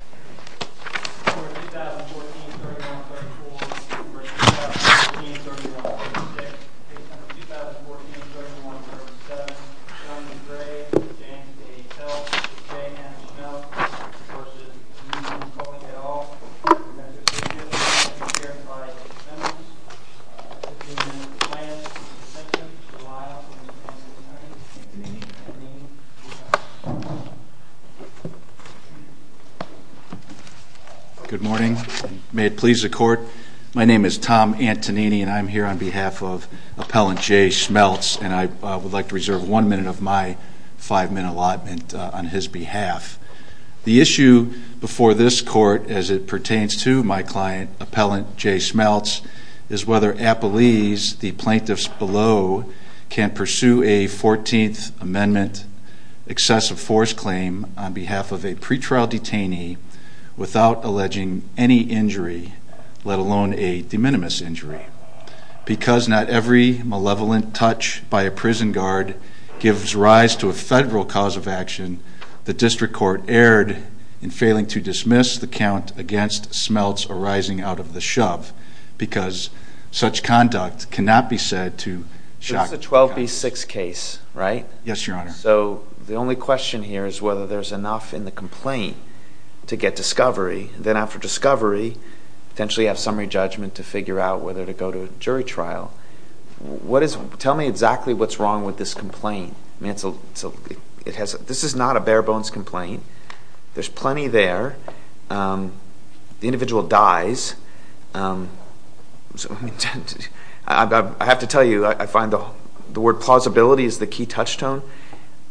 We're going to do the situation in the 19 thermometer segments fighter plane. In the plane's second, it's the pilot plane and on theCenter, Amy. Amy, we have. Good morning, may it please the court. My name is Tom Antonini and I'm here on behalf of Appellant Jay Smelts and I would like to reserve one minute of my five minute allotment on his behalf. The issue before this court as it pertains to my client Appellant Jay Smelts is whether the appellees, the plaintiffs below, can pursue a 14th Amendment excessive force claim on behalf of a pretrial detainee without alleging any injury, let alone a de minimis injury. Because not every malevolent touch by a prison guard gives rise to a federal cause of action, the district court erred in failing to dismiss the count against Smelts arising out of the defendant's conduct cannot be said to shock the count. This is a 12B6 case, right? Yes, your honor. So the only question here is whether there's enough in the complaint to get discovery. Then after discovery, potentially have summary judgment to figure out whether to go to a jury trial. What is, tell me exactly what's wrong with this complaint. This is not a bare bones complaint. There's plenty there. The individual dies. I have to tell you, I find the word plausibility is the key touchstone.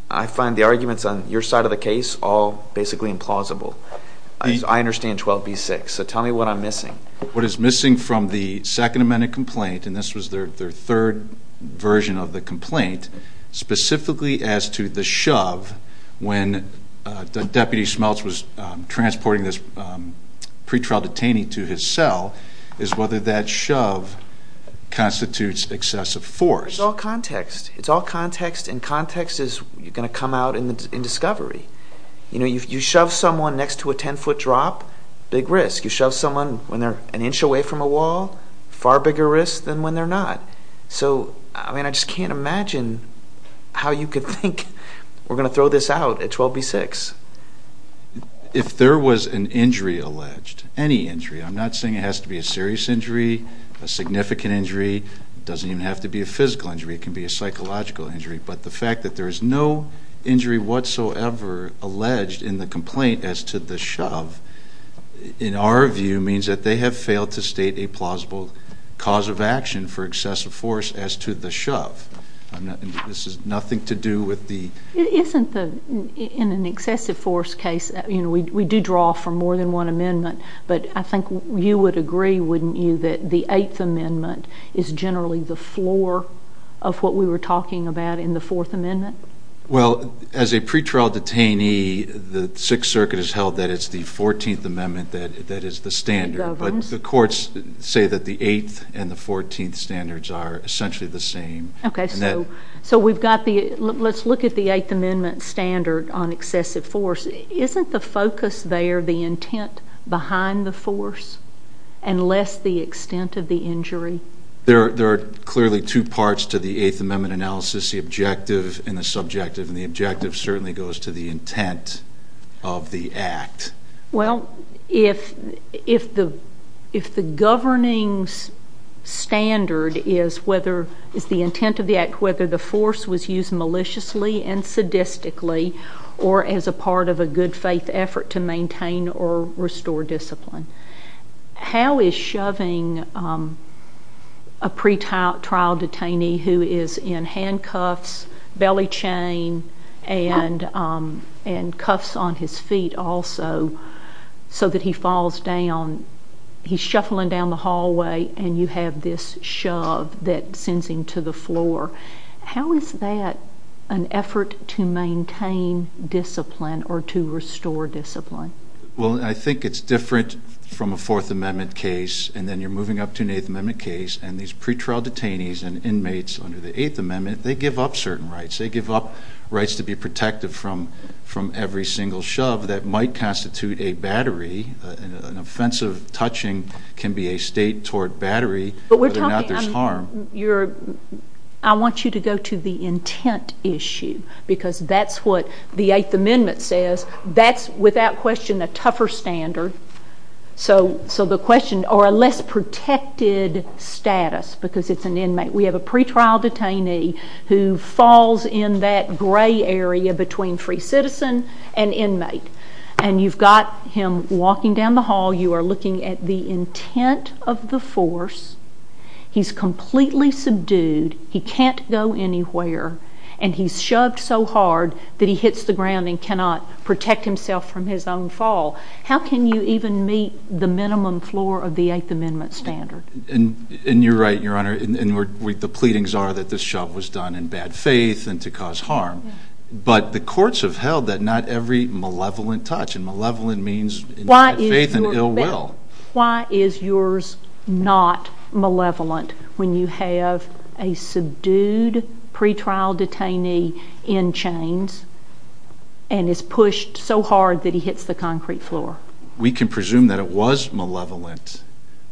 I find the arguments on your side of the case all basically implausible. I understand 12B6. So tell me what I'm missing. What is missing from the Second Amendment complaint, and this was their third version of the complaint, specifically as to the shove when Deputy Smelts was transporting this pretrial detainee to his cell, is whether that shove constitutes excessive force. It's all context. It's all context, and context is going to come out in discovery. You know, you shove someone next to a 10 foot drop, big risk. You shove someone when they're an inch away from a wall, far bigger risk than when they're not. So, I mean, I just can't imagine how you could think, we're going to throw this out at 12B6. If there was an injury alleged, any injury, I'm not saying it has to be a serious injury, a significant injury, it doesn't even have to be a physical injury, it can be a psychological injury, but the fact that there is no injury whatsoever alleged in the complaint as to the shove, in our view, means that they have failed to state a plausible cause of action for excessive force as to the shove. This is nothing to do with the... Isn't the, in an excessive force case, you know, we do draw from more than one amendment, but I think you would agree, wouldn't you, that the 8th amendment is generally the floor of what we were talking about in the 4th amendment? Well, as a pretrial detainee, the 6th circuit has held that it's the 14th amendment that the standards are essentially the same. Okay, so we've got the, let's look at the 8th amendment standard on excessive force. Isn't the focus there the intent behind the force, and less the extent of the injury? There are clearly two parts to the 8th amendment analysis, the objective and the subjective, and the objective certainly goes to the intent of the act. Well, if the governing standard is whether, is the intent of the act whether the force was used maliciously and sadistically, or as a part of a good faith effort to maintain or restore discipline, how is shoving a pretrial detainee who is in handcuffs, belly chain, and cuffs on his feet also, so that he falls down, he's shuffling down the hallway, and you have this shove that sends him to the floor. How is that an effort to maintain discipline or to restore discipline? Well, I think it's different from a 4th amendment case, and then you're moving up to an 8th amendment case, and these pretrial detainees and inmates under the 8th amendment, they give up rights to be protected from every single shove that might constitute a battery, an offensive touching can be a state toward battery, whether or not there's harm. I want you to go to the intent issue, because that's what the 8th amendment says, that's without question a tougher standard, or a less protected status, because it's an inmate. We have a pretrial detainee who falls in that gray area between free citizen and inmate, and you've got him walking down the hall, you are looking at the intent of the force, he's completely subdued, he can't go anywhere, and he's shoved so hard that he hits the ground and cannot protect himself from his own fall. How can you even meet the minimum floor of the 8th amendment standard? And you're right, your honor, the pleadings are that the shove was done in bad faith and to cause harm, but the courts have held that not every malevolent touch, and malevolent means bad faith and ill will. Why is yours not malevolent when you have a subdued pretrial detainee in chains, and is pushed so hard that he hits the concrete floor? We can presume that it was malevolent,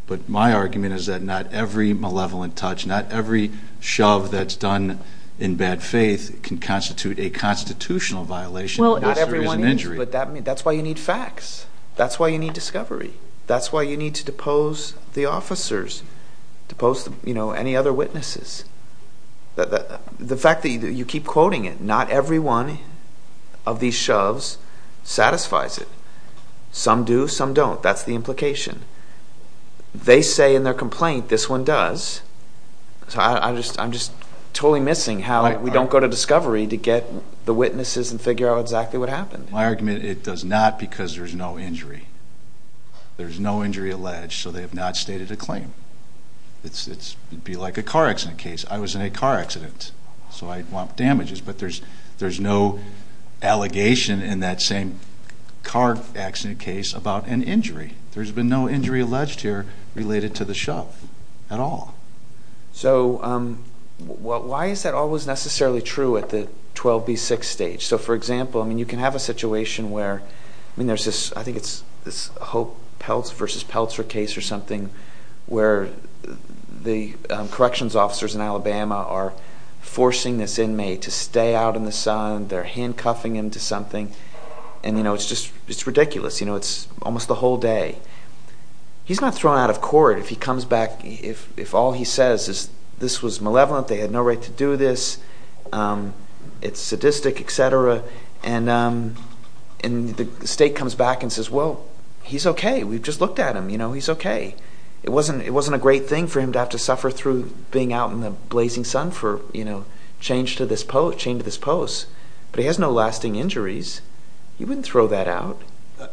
but my argument is that not every malevolent touch, not every shove that's done in bad faith can constitute a constitutional violation. Well, not everyone is, but that's why you need facts, that's why you need discovery, that's why you need to depose the officers, depose any other witnesses. The fact that you keep quoting it, not everyone of these shoves satisfies it. Some do, some don't, that's the implication. They say in their complaint, this one does, so I'm just totally missing how we don't go to discovery to get the witnesses and figure out exactly what happened. My argument, it does not because there's no injury. There's no injury alleged, so they have not stated a claim. It'd be like a car accident case. I was in a car accident, so I want damages, but there's no allegation in that same car accident case about an injury. There's been no injury alleged here related to the shove at all. So, why is that always necessarily true at the 12B6 stage? So, for example, I mean, you can have a situation where, I mean, there's this, I think it's this Hope vs. Peltzer case or something where the corrections officers in Alabama are forcing this inmate to stay out in the sun, they're handcuffing him to something, and, you know, it's just, it's ridiculous, you know, it's almost the whole day. He's not thrown out of court if he comes back, if all he says is this was malevolent, they had no right to do this, it's sadistic, etc., and the state comes back and says, well, he's okay, we've just looked at him, you know, he's okay. It wasn't a great thing for him to have to suffer through being out in the blazing sun for, you know, change to this post, but he has no lasting injuries. He wouldn't throw that out.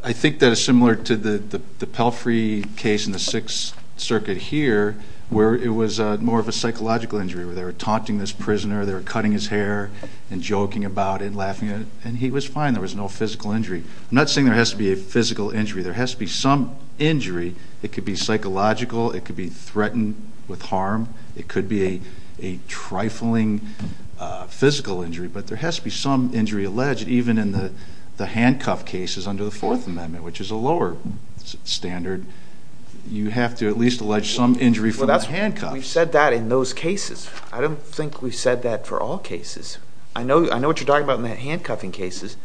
I think that is similar to the Pelfrey case in the Sixth Circuit here where it was more of a psychological injury, where they were taunting this prisoner, they were cutting his hair and joking about it, laughing at it, and he was fine, there was no physical injury. I'm not saying there has to be a physical injury, there has to be some injury. It could be psychological, it could be threatened with harm, it could be a trifling physical injury, but there has to be some injury alleged even in the handcuff cases under the Fourth Amendment, which is a lower standard. You have to at least allege some injury from the handcuffs. We've said that in those cases. I don't think we've said that for all cases. I know what you're talking about in the handcuffing cases,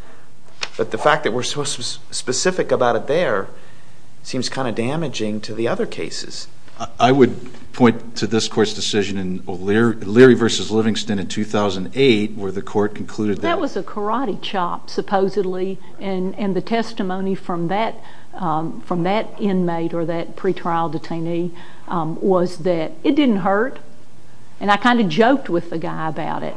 but the fact that we're so specific about it there seems kind of damaging to the other cases. I would point to this court's decision in Leary v. Livingston in 2008 where the court concluded that... That was a karate chop, supposedly, and the testimony from that inmate or that pretrial detainee was that it didn't hurt, and I kind of joked with the guy about it.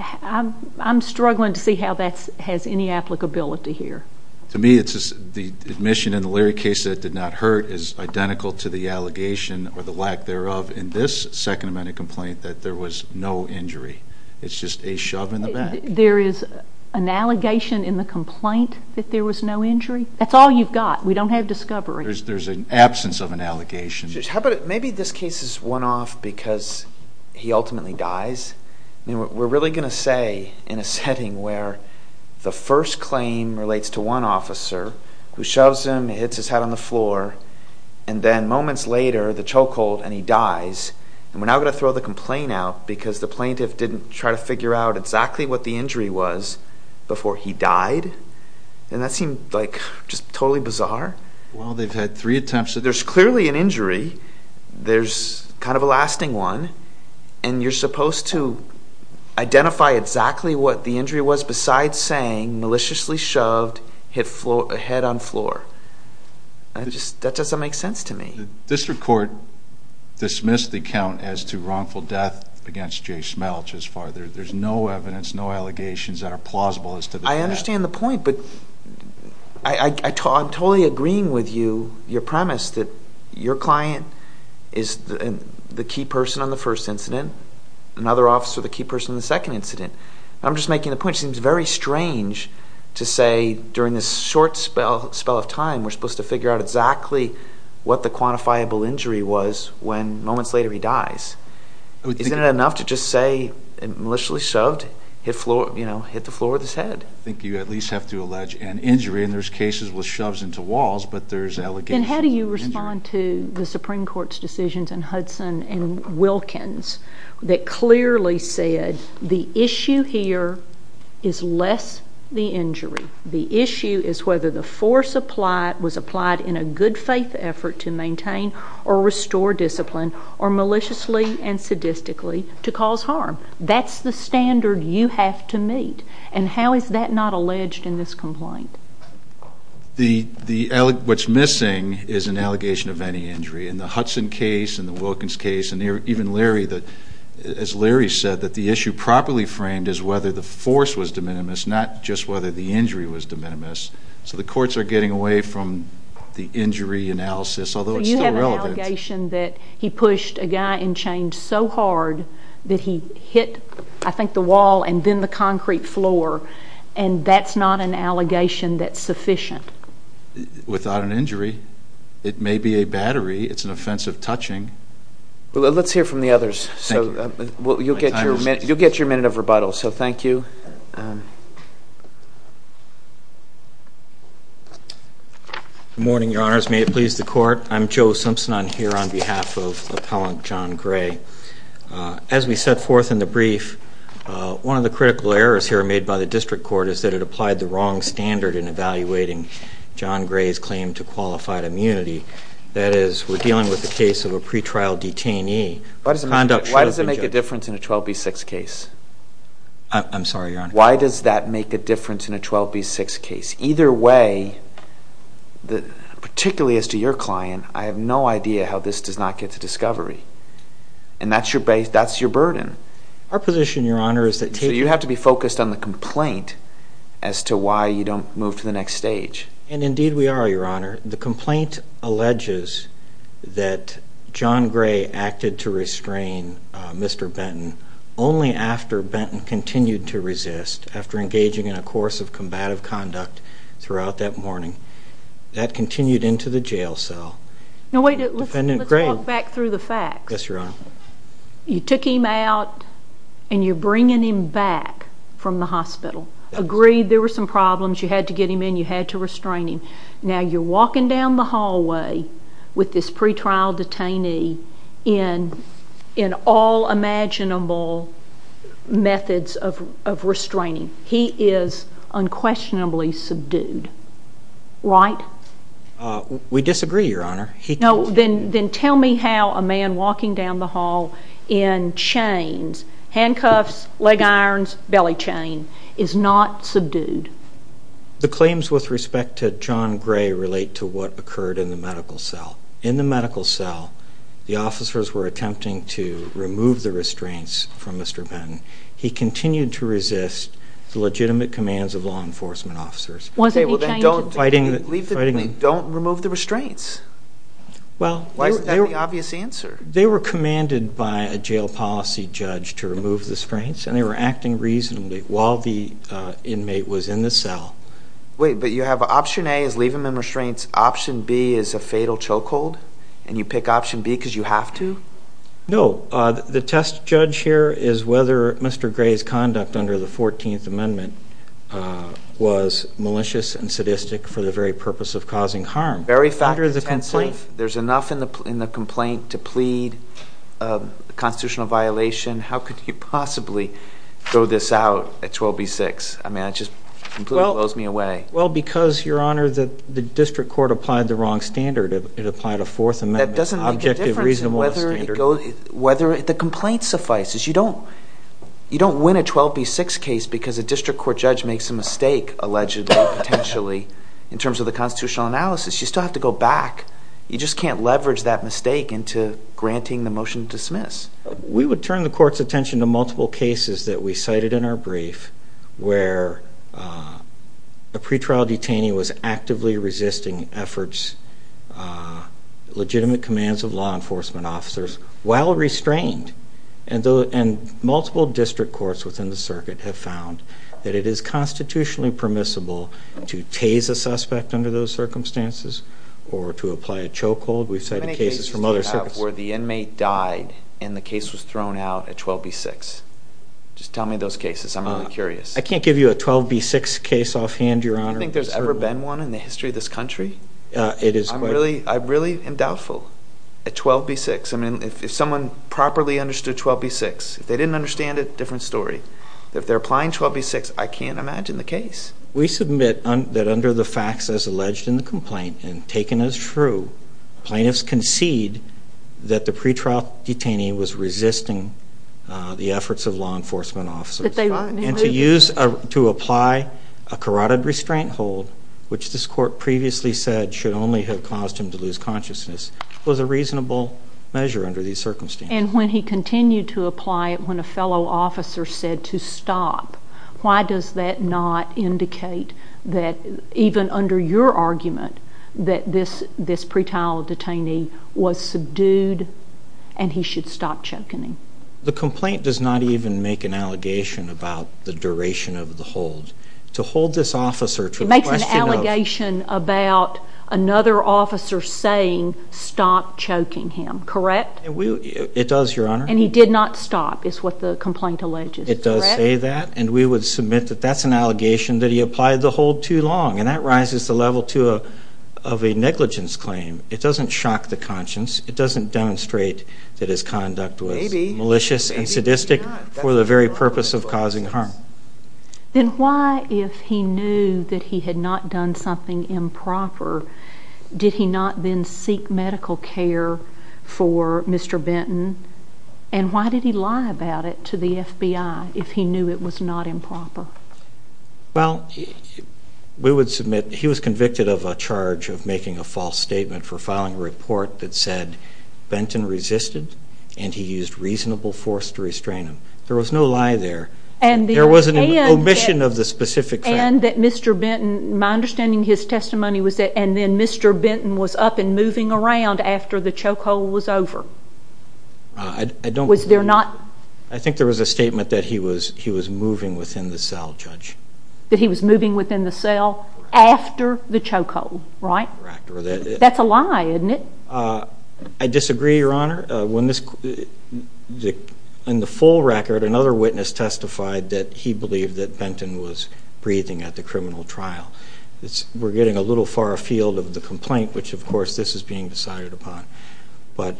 I'm struggling to see how that has any applicability here. To me, the admission in the Leary case that it did not hurt is identical to the allegation or the lack thereof in this Second Amendment complaint that there was no injury. It's just a shove in the back. There is an allegation in the complaint that there was no injury? That's all you've got. We don't have discovery. There's an absence of an allegation. Maybe this case is one-off because he ultimately dies. We're really going to say, in a setting where the first claim relates to one officer who shoves him, hits his head on the floor, and then moments later, the choke hold, and he dies, and we're now going to throw the complaint out because the plaintiff didn't try to figure out exactly what the injury was before he died? That seemed just totally bizarre. Well, they've had three attempts. There's clearly an injury. There's kind of a lasting one, and you're supposed to identify exactly what the injury was besides saying maliciously shoved, hit head on floor. That doesn't make sense to me. The district court dismissed the account as to wrongful death against Jay Smelch as far as there's no evidence, no allegations that are plausible as to the death. I understand the point, but I'm totally agreeing with you, your premise, that your client is the key person on the first incident, another officer the key person on the second incident. I'm just making the point, it seems very strange to say during this short spell of time, we're supposed to figure out exactly what the quantifiable injury was when moments later he dies. Isn't it enough to just say, maliciously shoved, hit the floor with his head? I think you at least have to allege an injury, and there's cases with shoves into walls, but there's allegations. How do you respond to the Supreme Court's decisions in Hudson and Wilkins that clearly said the issue here is less the injury. The issue is whether the force was applied in a good faith effort to maintain or restore discipline, or maliciously and sadistically to cause harm. That's the standard you have to meet, and how is that not alleged in this complaint? What's missing is an allegation of any injury. In the Hudson case, in the Wilkins case, and even Larry, as Larry said, the issue properly framed is whether the force was de minimis, not just whether the injury was de minimis. So the courts are getting away from the injury analysis, although it's still relevant. So you have an allegation that he pushed a guy in chains so hard that he hit, I think, the wall and then the concrete floor, and that's not an allegation that's sufficient. Without an injury, it may be a battery. It's an offensive touching. Let's hear from the others. Thank you. You'll get your minute of rebuttal. So thank you. Good morning, Your Honors. May it please the Court. I'm Joe Simpson. I'm here on behalf of Appellant John Gray. As we set forth in the brief, one of the critical errors here made by the District Court is that it applied the wrong standard in evaluating John Gray's claim to qualified immunity. That is, we're dealing with the case of a pretrial detainee. Why does it make a difference in a 12B6 case? I'm sorry, Your Honor. Why does that make a difference in a 12B6 case? Either way, particularly as to your client, I have no idea how this does not get to discovery. And that's your burden. Our position, Your Honor, is that taking... So you have to be focused on the complaint as to why you don't move to the next stage. And indeed we are, Your Honor. The complaint alleges that John Gray acted to restrain Mr. Benton only after Benton continued to resist, after engaging in a course of combative conduct throughout that morning. That continued into the jail cell. Now wait a minute. Let's walk back through the facts. Yes, Your Honor. You took him out and you're bringing him back from the hospital. Agreed there were some problems. You had to get him in. You had to restrain him. Now you're walking down the hallway with this pretrial detainee in all imaginable methods of restraining. He is unquestionably subdued, right? We disagree, Your Honor. He... No, then tell me how a man walking down the hall in chains, handcuffs, leg irons, belly chain, is not subdued. The claims with respect to John Gray relate to what occurred in the medical cell. In the medical cell, the officers were attempting to remove the restraints from Mr. Benton. He continued to resist the legitimate commands of law enforcement officers. Wasn't he chained? Okay, well then don't... Fighting... Leave the... Don't remove the restraints. Well... Why is that the obvious answer? They were commanded by a jail policy judge to remove the restraints, and they were acting reasonably while the inmate was in the cell. Wait, but you have option A is leave him in restraints. Option B is a fatal chokehold, and you pick option B because you have to? No. Well, the test judge here is whether Mr. Gray's conduct under the 14th Amendment was malicious and sadistic for the very purpose of causing harm. Very fact... Under the complaint... There's enough in the complaint to plead a constitutional violation. How could you possibly throw this out at 12B6? I mean, it just completely blows me away. Well, because, Your Honor, the district court applied the wrong standard. It applied a Fourth Amendment objective reasonable standard. Whether... The complaint suffices. You don't... You don't win a 12B6 case because a district court judge makes a mistake, allegedly, potentially, in terms of the constitutional analysis. You still have to go back. You just can't leverage that mistake into granting the motion to dismiss. We would turn the court's attention to multiple cases that we cited in our brief where a pretrial while restrained and multiple district courts within the circuit have found that it is constitutionally permissible to tase a suspect under those circumstances or to apply a choke hold. We've cited cases from other circuits... How many cases do you have where the inmate died and the case was thrown out at 12B6? Just tell me those cases. I'm really curious. I can't give you a 12B6 case offhand, Your Honor. Do you think there's ever been one in the history of this country? It is quite... I really am doubtful. At 12B6. I mean, if someone properly understood 12B6, if they didn't understand it, different story. If they're applying 12B6, I can't imagine the case. We submit that under the facts as alleged in the complaint and taken as true, plaintiffs concede that the pretrial detainee was resisting the efforts of law enforcement officers. That they were. And to use... To apply a carotid restraint hold, which this court previously said should only have caused him to lose consciousness, was a reasonable measure under these circumstances. And when he continued to apply it when a fellow officer said to stop, why does that not indicate that even under your argument, that this pretrial detainee was subdued and he should stop choking him? The complaint does not even make an allegation about the duration of the hold. To hold this officer to the question of... This officer saying, stop choking him, correct? It does, Your Honor. And he did not stop, is what the complaint alleges, correct? It does say that, and we would submit that that's an allegation that he applied the hold too long. And that rises the level of a negligence claim. It doesn't shock the conscience. It doesn't demonstrate that his conduct was malicious and sadistic for the very purpose of causing harm. Then why, if he knew that he had not done something improper, did he not then seek medical care for Mr. Benton? And why did he lie about it to the FBI if he knew it was not improper? Well, we would submit he was convicted of a charge of making a false statement for filing a report that said, Benton resisted and he used reasonable force to restrain him. There was no lie there. There wasn't an omission of the specific claim. And that Mr. Benton, my understanding of his testimony was that, and then Mr. Benton was up and moving around after the chokehold was over. Was there not? I think there was a statement that he was moving within the cell, Judge. That he was moving within the cell after the chokehold, right? That's a lie, isn't it? I disagree, Your Honor. In the full record, another witness testified that he believed that Benton was breathing at the criminal trial. We're getting a little far afield of the complaint, which of course this is being decided upon. But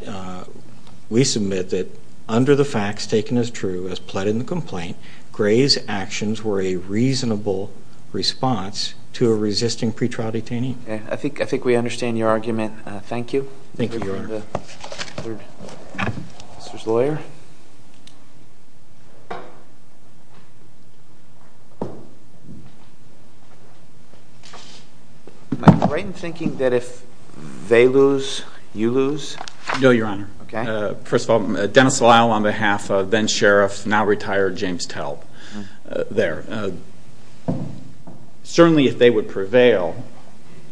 we submit that under the facts taken as true as pled in the complaint, Gray's actions were a reasonable response to a resisting pretrial detainee. I think we understand your argument. Thank you. Thank you, Your Honor. Let's turn to Mr.'s lawyer. Am I right in thinking that if they lose, you lose? No, Your Honor. First of all, Dennis Lyle on behalf of then-sheriff, now-retired, James Talb. There. Certainly, if they would prevail,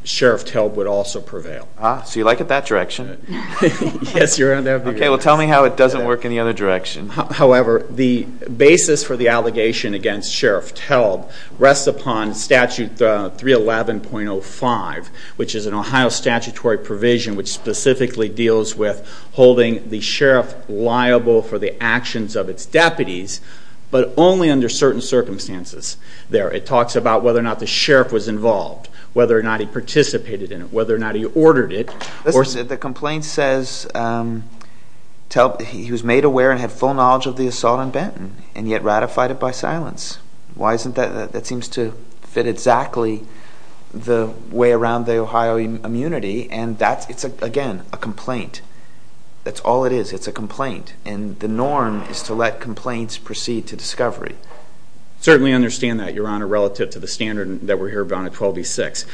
Sheriff Talb would also prevail. Ah, so you like it that direction? Yes, Your Honor. Okay, well tell me how it doesn't work in the other direction. However, the basis for the allegation against Sheriff Talb rests upon statute 311.05, which is an Ohio statutory provision which specifically deals with holding the sheriff liable for the actions of its deputies, but only under certain circumstances. It talks about whether or not the sheriff was involved, whether or not he participated in it, whether or not he ordered it. The complaint says he was made aware and had full knowledge of the assault on Benton and yet ratified it by silence. Why isn't that? That seems to fit exactly the way around the Ohio immunity and that's, again, a complaint. That's all it is. It's a complaint. And the norm is to let complaints proceed to discovery. Certainly understand that, Your Honor, relative to the standard that we're here about at 12B6.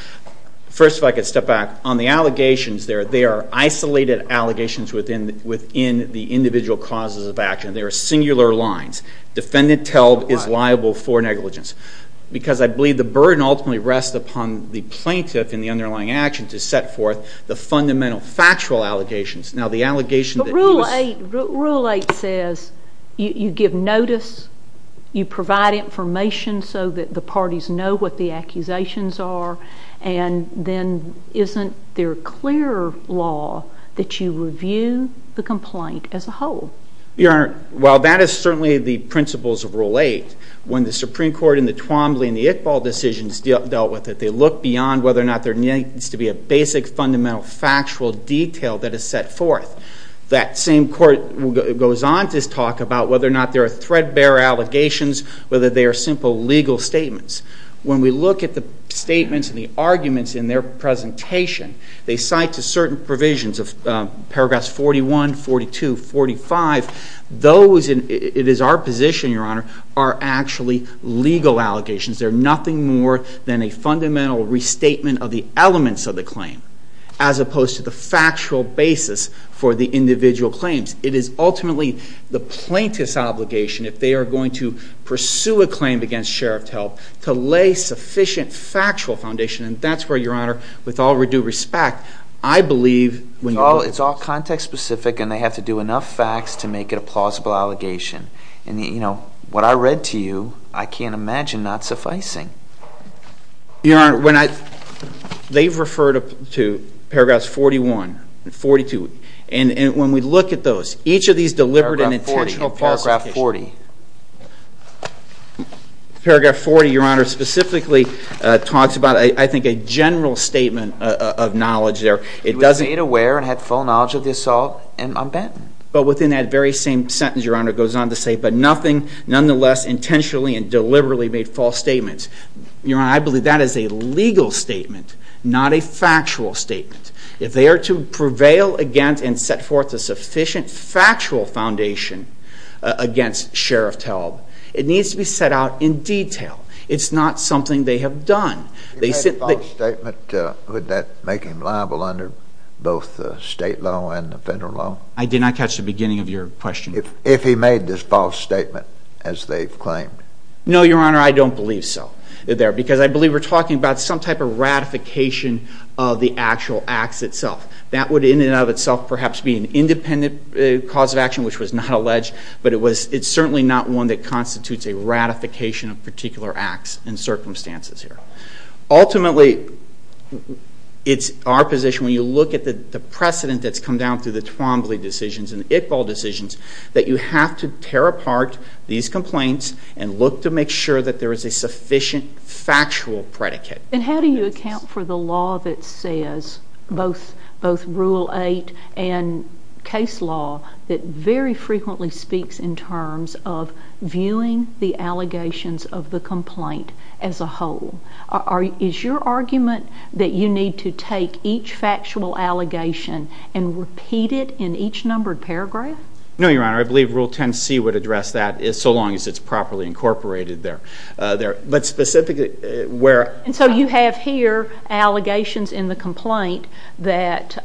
First, if I could step back. On the allegations there, they are isolated allegations within the individual causes of action. They are singular lines. Defendant Talb is liable for negligence. Because I believe the burden ultimately rests upon the plaintiff in the underlying action to set forth the fundamental factual allegations. Now the allegation that he was— Rule 8 says you give notice, you provide information so that the parties know what the accusations are and then isn't there a clearer law that you review the complaint as a whole? Your Honor, while that is certainly the principles of Rule 8, when the Supreme Court in the Twombly and the Iqbal decisions dealt with it, they looked beyond whether or not there needs to be a basic fundamental factual detail that is set forth. That same court goes on to talk about whether or not there are threadbare allegations, whether they are simple legal statements. When we look at the statements and the arguments in their presentation, they cite to certain provisions of paragraphs 41, 42, 45, those—it is our position, Your Honor—are actually legal allegations. They are nothing more than a fundamental restatement of the elements of the claim as opposed to the factual basis for the individual claims. It is ultimately the plaintiff's obligation if they are going to pursue a claim against the sheriff's help to lay sufficient factual foundation and that is where, Your Honor, with all due respect, I believe— It is all context specific and they have to do enough facts to make it a plausible allegation. What I read to you, I can't imagine not sufficing. Your Honor, they have referred to paragraphs 41 and 42 and when we look at those, each of these deliberate and intentional falsification— Paragraph 40. Paragraph 40, Your Honor, specifically talks about, I think, a general statement of knowledge It doesn't— He was made aware and had full knowledge of the assault on Benton. But within that very same sentence, Your Honor, it goes on to say, but nothing nonetheless intentionally and deliberately made false statements. Your Honor, I believe that is a legal statement, not a factual statement. If they are to prevail against and set forth a sufficient factual foundation against Sheriff Talb, it needs to be set out in detail. It's not something they have done. If he made a false statement, would that make him liable under both the state law and the federal law? I did not catch the beginning of your question. If he made this false statement, as they've claimed? No, Your Honor, I don't believe so. I believe we're talking about some type of ratification of the actual acts itself. That would, in and of itself, perhaps be an independent cause of action, which was not alleged, but it's certainly not one that constitutes a ratification of particular acts and circumstances here. Ultimately, it's our position, when you look at the precedent that's come down through the Twombly decisions and the Iqbal decisions, that you have to tear apart these complaints and look to make sure that there is a sufficient factual predicate. And how do you account for the law that says, both Rule 8 and case law, that very frequently speaks in terms of viewing the allegations of the complaint as a whole? Is your argument that you need to take each factual allegation and repeat it in each numbered paragraph? No, Your Honor, I believe Rule 10c would address that, so long as it's properly incorporated there. But specifically, where... And so you have here allegations in the complaint that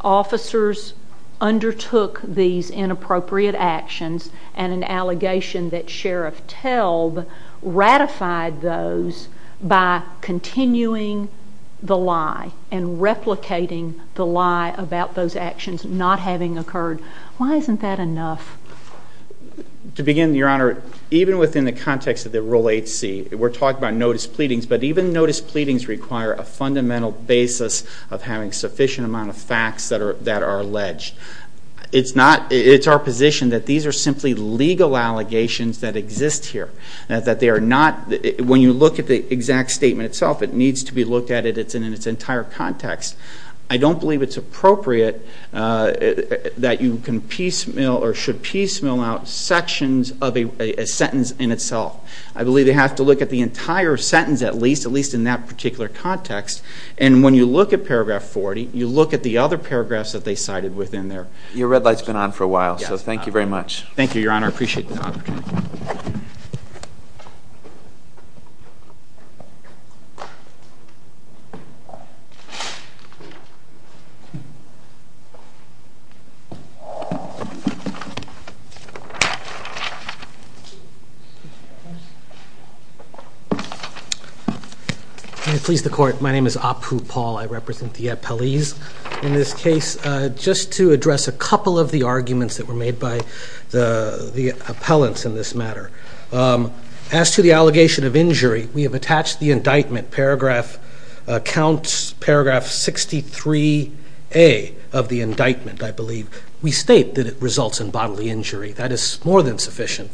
officers undertook these inappropriate actions, and an allegation that Sheriff Telb ratified those by continuing the lie and replicating the lie about those actions not having occurred. Why isn't that enough? To begin, Your Honor, even within the context of the Rule 8c, we're talking about notice pleadings, but even notice pleadings require a fundamental basis of having a sufficient amount of facts that are alleged. It's not... It's our position that these are simply legal allegations that exist here, that they are not... When you look at the exact statement itself, it needs to be looked at, and it's in its I don't believe it's appropriate that you can piecemeal or should piecemeal out sections of a sentence in itself. I believe they have to look at the entire sentence at least, at least in that particular context, and when you look at paragraph 40, you look at the other paragraphs that they cited within there. Your red light's been on for a while, so thank you very much. Thank you, Your Honor. I appreciate the thought. Okay. I'm going to please the court. My name is Apu Paul. I represent the appellees in this case. address a couple of the arguments that were made by the appellants in this matter. As to the allegation of injury, we have attached the indictment, paragraph 63A of the indictment, I believe. We state that it results in bodily injury. That is more than sufficient.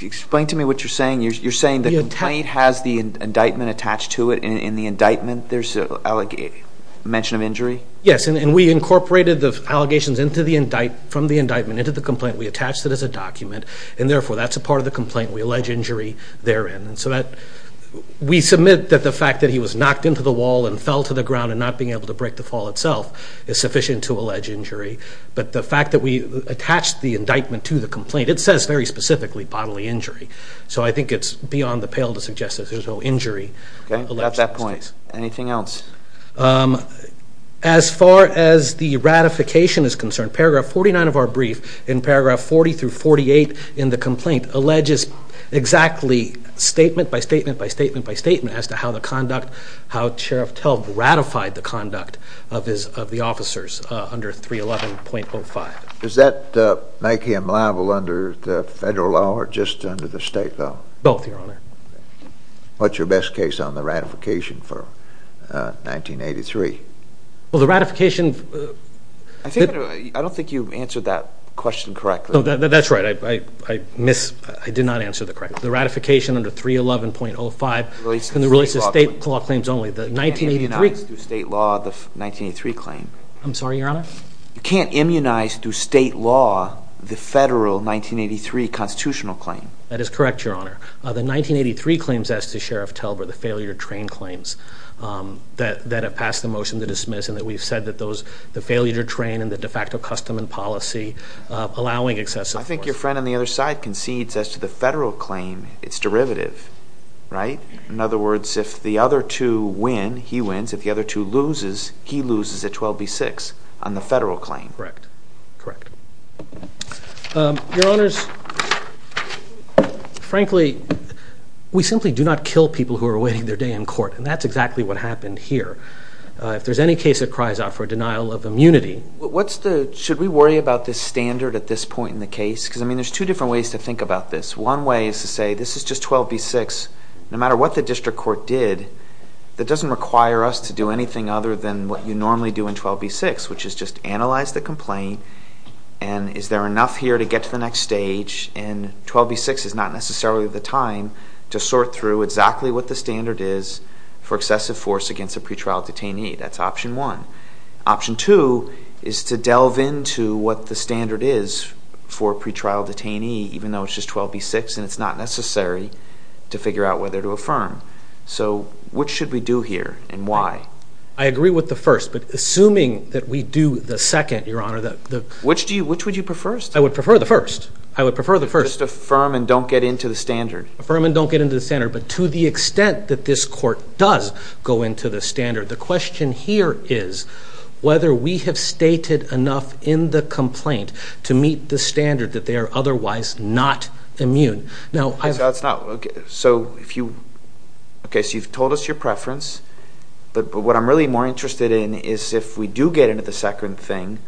Explain to me what you're saying. You're saying the complaint has the indictment attached to it, and in the indictment there's a mention of injury? Yes. And we incorporated the allegations from the indictment into the complaint. We attached it as a document, and therefore that's a part of the complaint. We allege injury therein. We submit that the fact that he was knocked into the wall and fell to the ground and not being able to break the fall itself is sufficient to allege injury, but the fact that we attached the indictment to the complaint, it says very specifically bodily injury. So I think it's beyond the pale to suggest that there's no injury. Okay. Got that point. Anything else? As far as the ratification is concerned, paragraph 49 of our brief, in paragraph 40 through 48 in the complaint, alleges exactly statement by statement by statement by statement as to how the conduct, how Sheriff Tell ratified the conduct of the officers under 311.05. Does that make him liable under the federal law or just under the state law? Both, Your Honor. What's your best case on the ratification for 1983? Well, the ratification... I don't think you answered that question correctly. That's right. I missed. I did not answer it correctly. The ratification under 311.05 relates to state law claims only. The 1983... You can't immunize through state law the 1983 claim. I'm sorry, Your Honor? You can't immunize through state law the federal 1983 constitutional claim. That is correct, Your Honor. The 1983 claims as to Sheriff Tell were the failure to train claims that have passed the motion to dismiss and that we've said that those, the failure to train and the de facto custom and policy allowing excessive force. I think your friend on the other side concedes as to the federal claim, its derivative, right? In other words, if the other two win, he wins, if the other two loses, he loses at 12B6 on the federal claim. Correct. Correct. Your Honors, frankly, we simply do not kill people who are awaiting their day in court and that's exactly what happened here. If there's any case that cries out for a denial of immunity... What's the... Should we worry about this standard at this point in the case? Because, I mean, there's two different ways to think about this. One way is to say, this is just 12B6. No matter what the district court did, that doesn't require us to do anything other than what you normally do in 12B6, which is just analyze the complaint and is there enough here to get to the next stage and 12B6 is not necessarily the time to sort through exactly what the standard is for excessive force against a pretrial detainee. That's option one. Option two is to delve into what the standard is for a pretrial detainee, even though it's just 12B6 and it's not necessary to figure out whether to affirm. So what should we do here and why? I agree with the first, but assuming that we do the second, Your Honor, the... Which do you... Which would you prefer? I would prefer the first. I would prefer the first. Just affirm and don't get into the standard. Affirm and don't get into the standard. But to the extent that this court does go into the standard, the question here is whether we have stated enough in the complaint to meet the standard that they are otherwise not immune. Now, I... That's not... Okay. So if you... Okay. So you've told us your preference, but what I'm really more interested in is if we do get into the second thing,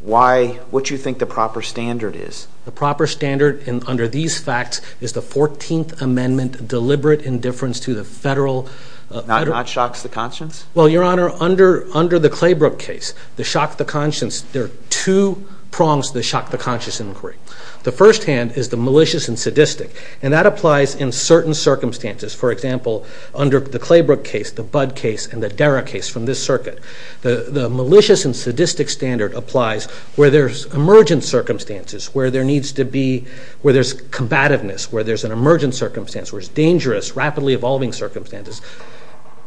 why... What do you think the proper standard is? The proper standard under these facts is the 14th Amendment deliberate indifference to the federal... Not shocks the conscience? Well, Your Honor, under the Claybrook case, the shock the conscience, there are two prongs to the shock the conscience inquiry. The first hand is the malicious and sadistic, and that applies in certain circumstances. For example, under the Claybrook case, the Budd case, and the Dara case from this circuit, the malicious and sadistic standard applies where there's emergent circumstances, where there needs to be... Where there's combativeness, where there's an emergent circumstance, where it's dangerous, rapidly evolving circumstances.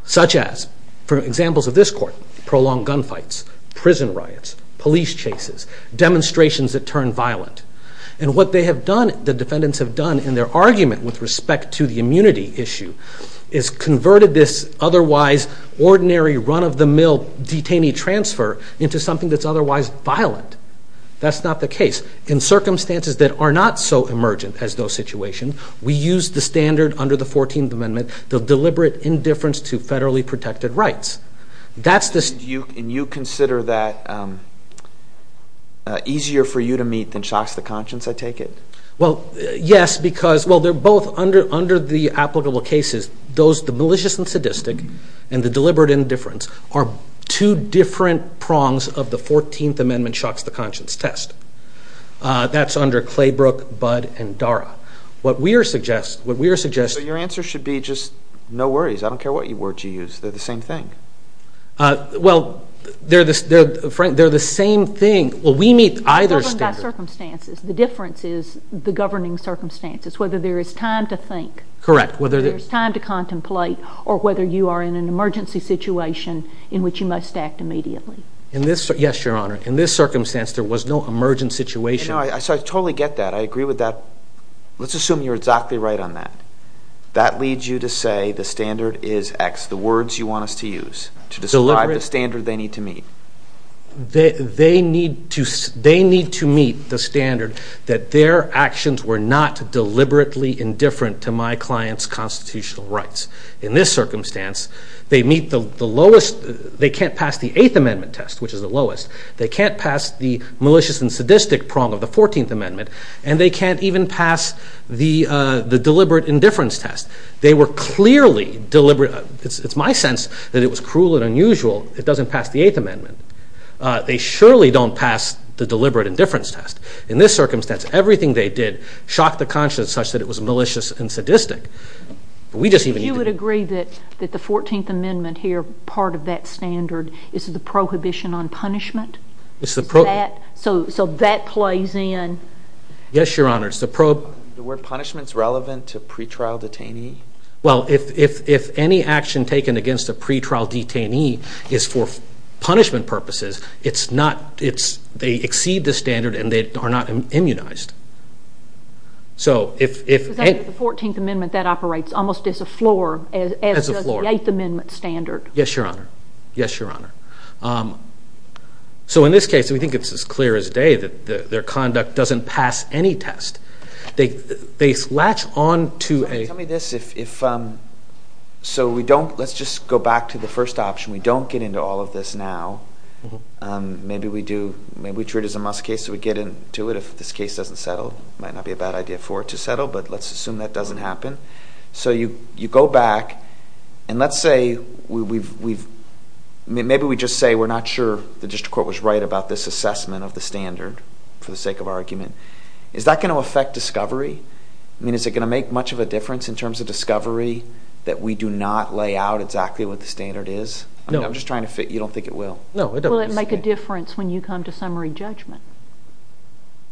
Such as, for examples of this court, prolonged gunfights, prison riots, police chases, demonstrations that turn violent. And what they have done, the defendants have done in their argument with respect to the immunity issue, is converted this otherwise ordinary run-of-the-mill detainee transfer into something that's otherwise violent. That's not the case. In circumstances that are not so emergent as those situations, we use the standard under the 14th Amendment, the deliberate indifference to federally protected rights. That's the... And you consider that easier for you to meet than Shocks to Conscience, I take it? Well, yes, because, well, they're both under the applicable cases, those, the malicious and sadistic, and the deliberate indifference, are two different prongs of the 14th Amendment Shocks to Conscience test. That's under Claybrook, Budd, and Dara. What we are suggesting... What we are suggesting... So your answer should be just, no worries, I don't care what words you use, they're the same thing. Well, they're the same thing. Well, we meet either standard... It's governed by circumstances. The difference is the governing circumstances, whether there is time to think. Correct. Whether there's time to contemplate, or whether you are in an emergency situation in which you must act immediately. In this... Yes, Your Honor. In this circumstance, there was no emergent situation. I totally get that. I agree with that. Let's assume you're exactly right on that. That leads you to say the standard is X. The words you want us to use to describe the standard they need to meet. They need to meet the standard that their actions were not deliberately indifferent to my client's constitutional rights. In this circumstance, they meet the lowest... They can't pass the 8th Amendment test, which is the lowest. They can't pass the malicious and sadistic prong of the 14th Amendment, and they can't even pass the deliberate indifference test. They were clearly deliberate... It's my sense that it was cruel and unusual. It doesn't pass the 8th Amendment. They surely don't pass the deliberate indifference test. In this circumstance, everything they did shocked the conscience such that it was malicious and sadistic. We just even... You would agree that the 14th Amendment here, part of that standard, is the prohibition on punishment? It's the prohib... Is that... So that plays in... Yes, Your Honor. It's the prohib... Were punishments relevant to pretrial detainee? Well, if any action taken against a pretrial detainee is for punishment purposes, it's not... It's... They exceed the standard, and they are not immunized. So, if... Because under the 14th Amendment, that operates almost as a floor... As a floor. ...as does the 8th Amendment standard. Yes, Your Honor. Yes, Your Honor. So, in this case, we think it's as clear as day that their conduct doesn't pass any test. They latch on to a... Tell me this. So, we don't... Let's just go back to the first option. We don't get into all of this now. Maybe we do. Maybe we treat it as a must case, so we get into it. If this case doesn't settle, it might not be a bad idea for it to settle, but let's assume that doesn't happen. So, you go back, and let's say we've... Maybe we just say we're not sure the district court was right about this assessment of the standard for the sake of our argument. Is that going to affect discovery? I mean, is it going to make much of a difference in terms of discovery that we do not lay out exactly what the standard is? No. I'm just trying to fit... You don't think it will? No, it doesn't. Will it make a difference when you come to summary judgment?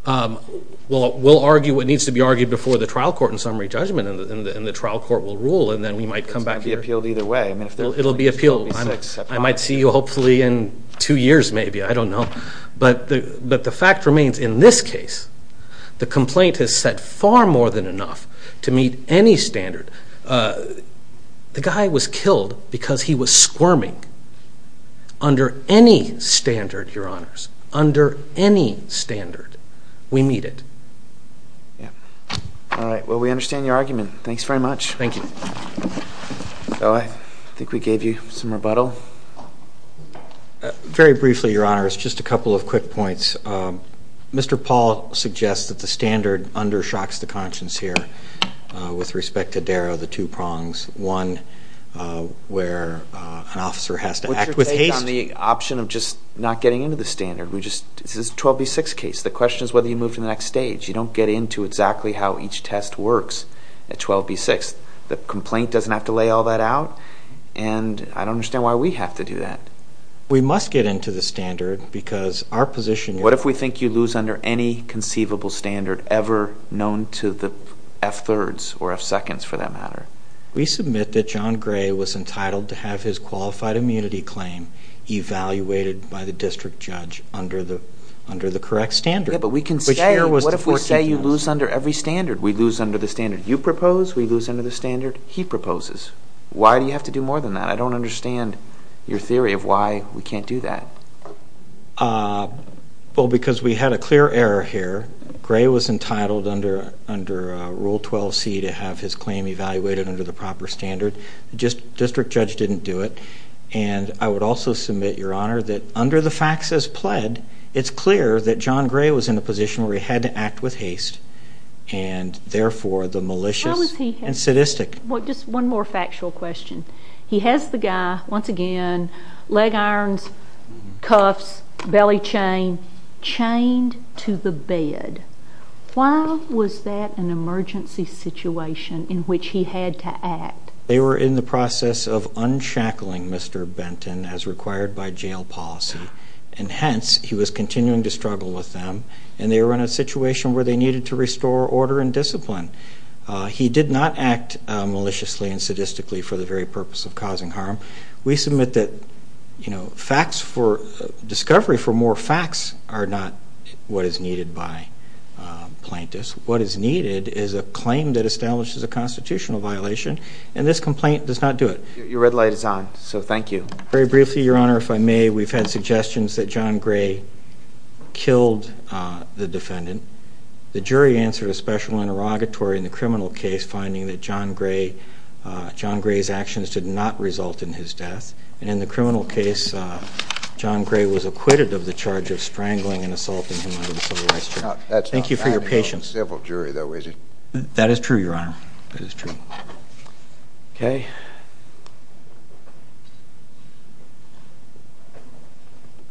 Well, we'll argue what needs to be argued before the trial court in summary judgment, and the trial court will rule, and then we might come back here. It's going to be appealed either way. It'll be appealed. I might see you hopefully in two years, maybe. I don't know. But the fact remains, in this case, the complaint has said far more than enough to meet any standard. The guy was killed because he was squirming under any standard, Your Honors, under any standard. We meet it. Yeah. All right. Well, we understand your argument. Thanks very much. Thank you. So I think we gave you some rebuttal. Very briefly, Your Honors, just a couple of quick points. Mr. Paul suggests that the standard undershocks the conscience here with respect to Darrow, the two prongs. One, where an officer has to act with haste. What's your take on the option of just not getting into the standard? This is a 12B6 case. The question is whether you move to the next stage. You don't get into exactly how each test works at 12B6. The complaint doesn't have to lay all that out, and I don't understand why we have to do that. We must get into the standard because our position is... What if we think you lose under any conceivable standard ever known to the F-thirds, or F-seconds for that matter? We submit that John Gray was entitled to have his qualified immunity claim evaluated by the district judge under the correct standard. Yeah, but we can say... What if we say you lose under every standard? We lose under the standard you propose, we lose under the standard he proposes. Why do you have to do more than that? I don't understand your theory of why we can't do that. Well, because we had a clear error here. Gray was entitled under Rule 12C to have his claim evaluated under the proper standard. The district judge didn't do it. I would also submit, Your Honor, that under the facts as pled, it's clear that John Gray was in a position where he had to act with haste, and therefore the malicious and sadistic... Just one more factual question. He has the guy, once again, leg irons, cuffs, belly chain, chained to the bed. Why was that an emergency situation in which he had to act? They were in the process of unshackling Mr. Benton as required by jail policy, and hence he was continuing to struggle with them, and they were in a situation where they needed to restore order and discipline. He did not act maliciously and sadistically for the very purpose of causing harm. We submit that discovery for more facts are not what is needed by plaintiffs. What is needed is a claim that establishes a constitutional violation, and this complaint does not do it. Your red light is on, so thank you. Very briefly, Your Honor, if I may, we've had suggestions that John Gray killed the defendant. The jury answered a special interrogatory in the criminal case, finding that John Gray's actions did not result in his death, and in the criminal case, John Gray was acquitted of the charge of strangling and assaulting him under the Civil Rights Charter. Thank you for your patience. That is true, Your Honor. Okay.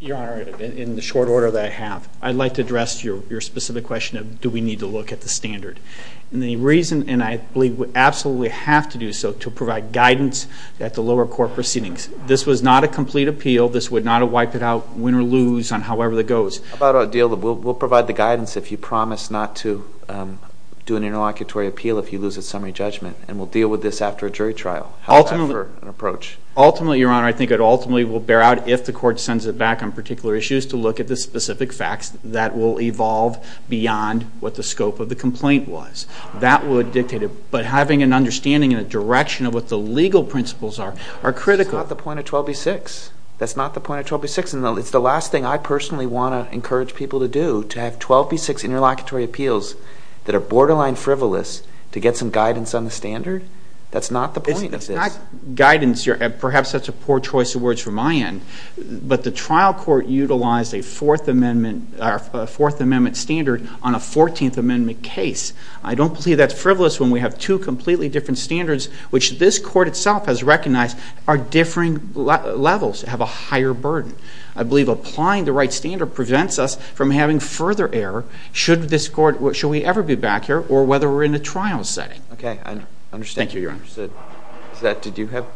Your Honor, in the short order that I have, I'd like to address your specific question of do we need to look at the standard. And the reason, and I believe we absolutely have to do so, to provide guidance at the lower court proceedings. This was not a complete appeal. This would not have wiped it out, win or lose on however that goes. We'll provide the guidance if you promise not to do an interlocutory appeal if you lose a summary judgment, and we'll deal with this after a jury trial. Ultimately, Your Honor, I think it ultimately will bear out if the court sends it back on particular issues to look at the specific facts that will evolve beyond what the scope of the complaint was. That would dictate it. But having an understanding and a direction of what the legal principles are, are critical. That's not the point of 12b-6. That's not the point of 12b-6. It's the last thing I personally want to encourage people to do, to have 12b-6 interlocutory appeals that are borderline frivolous to get some guidance on the standard. That's not the point of this. It's not guidance. Perhaps that's a poor choice of words from my end. But the trial court utilized a Fourth Amendment standard on a Fourteenth Amendment case. I don't believe that's frivolous when we have two completely different standards, which this court itself has recognized are differing levels, have a higher burden. I believe applying the right standard prevents us from having further error should this court, should we ever be back here or whether we're in a trial setting. Okay, I understand. Thank you, Your Honor. Is that, did you have?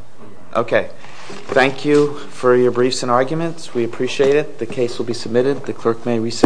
Okay. Thank you for your briefs and arguments. We appreciate it. The case will be submitted. The clerk may recess.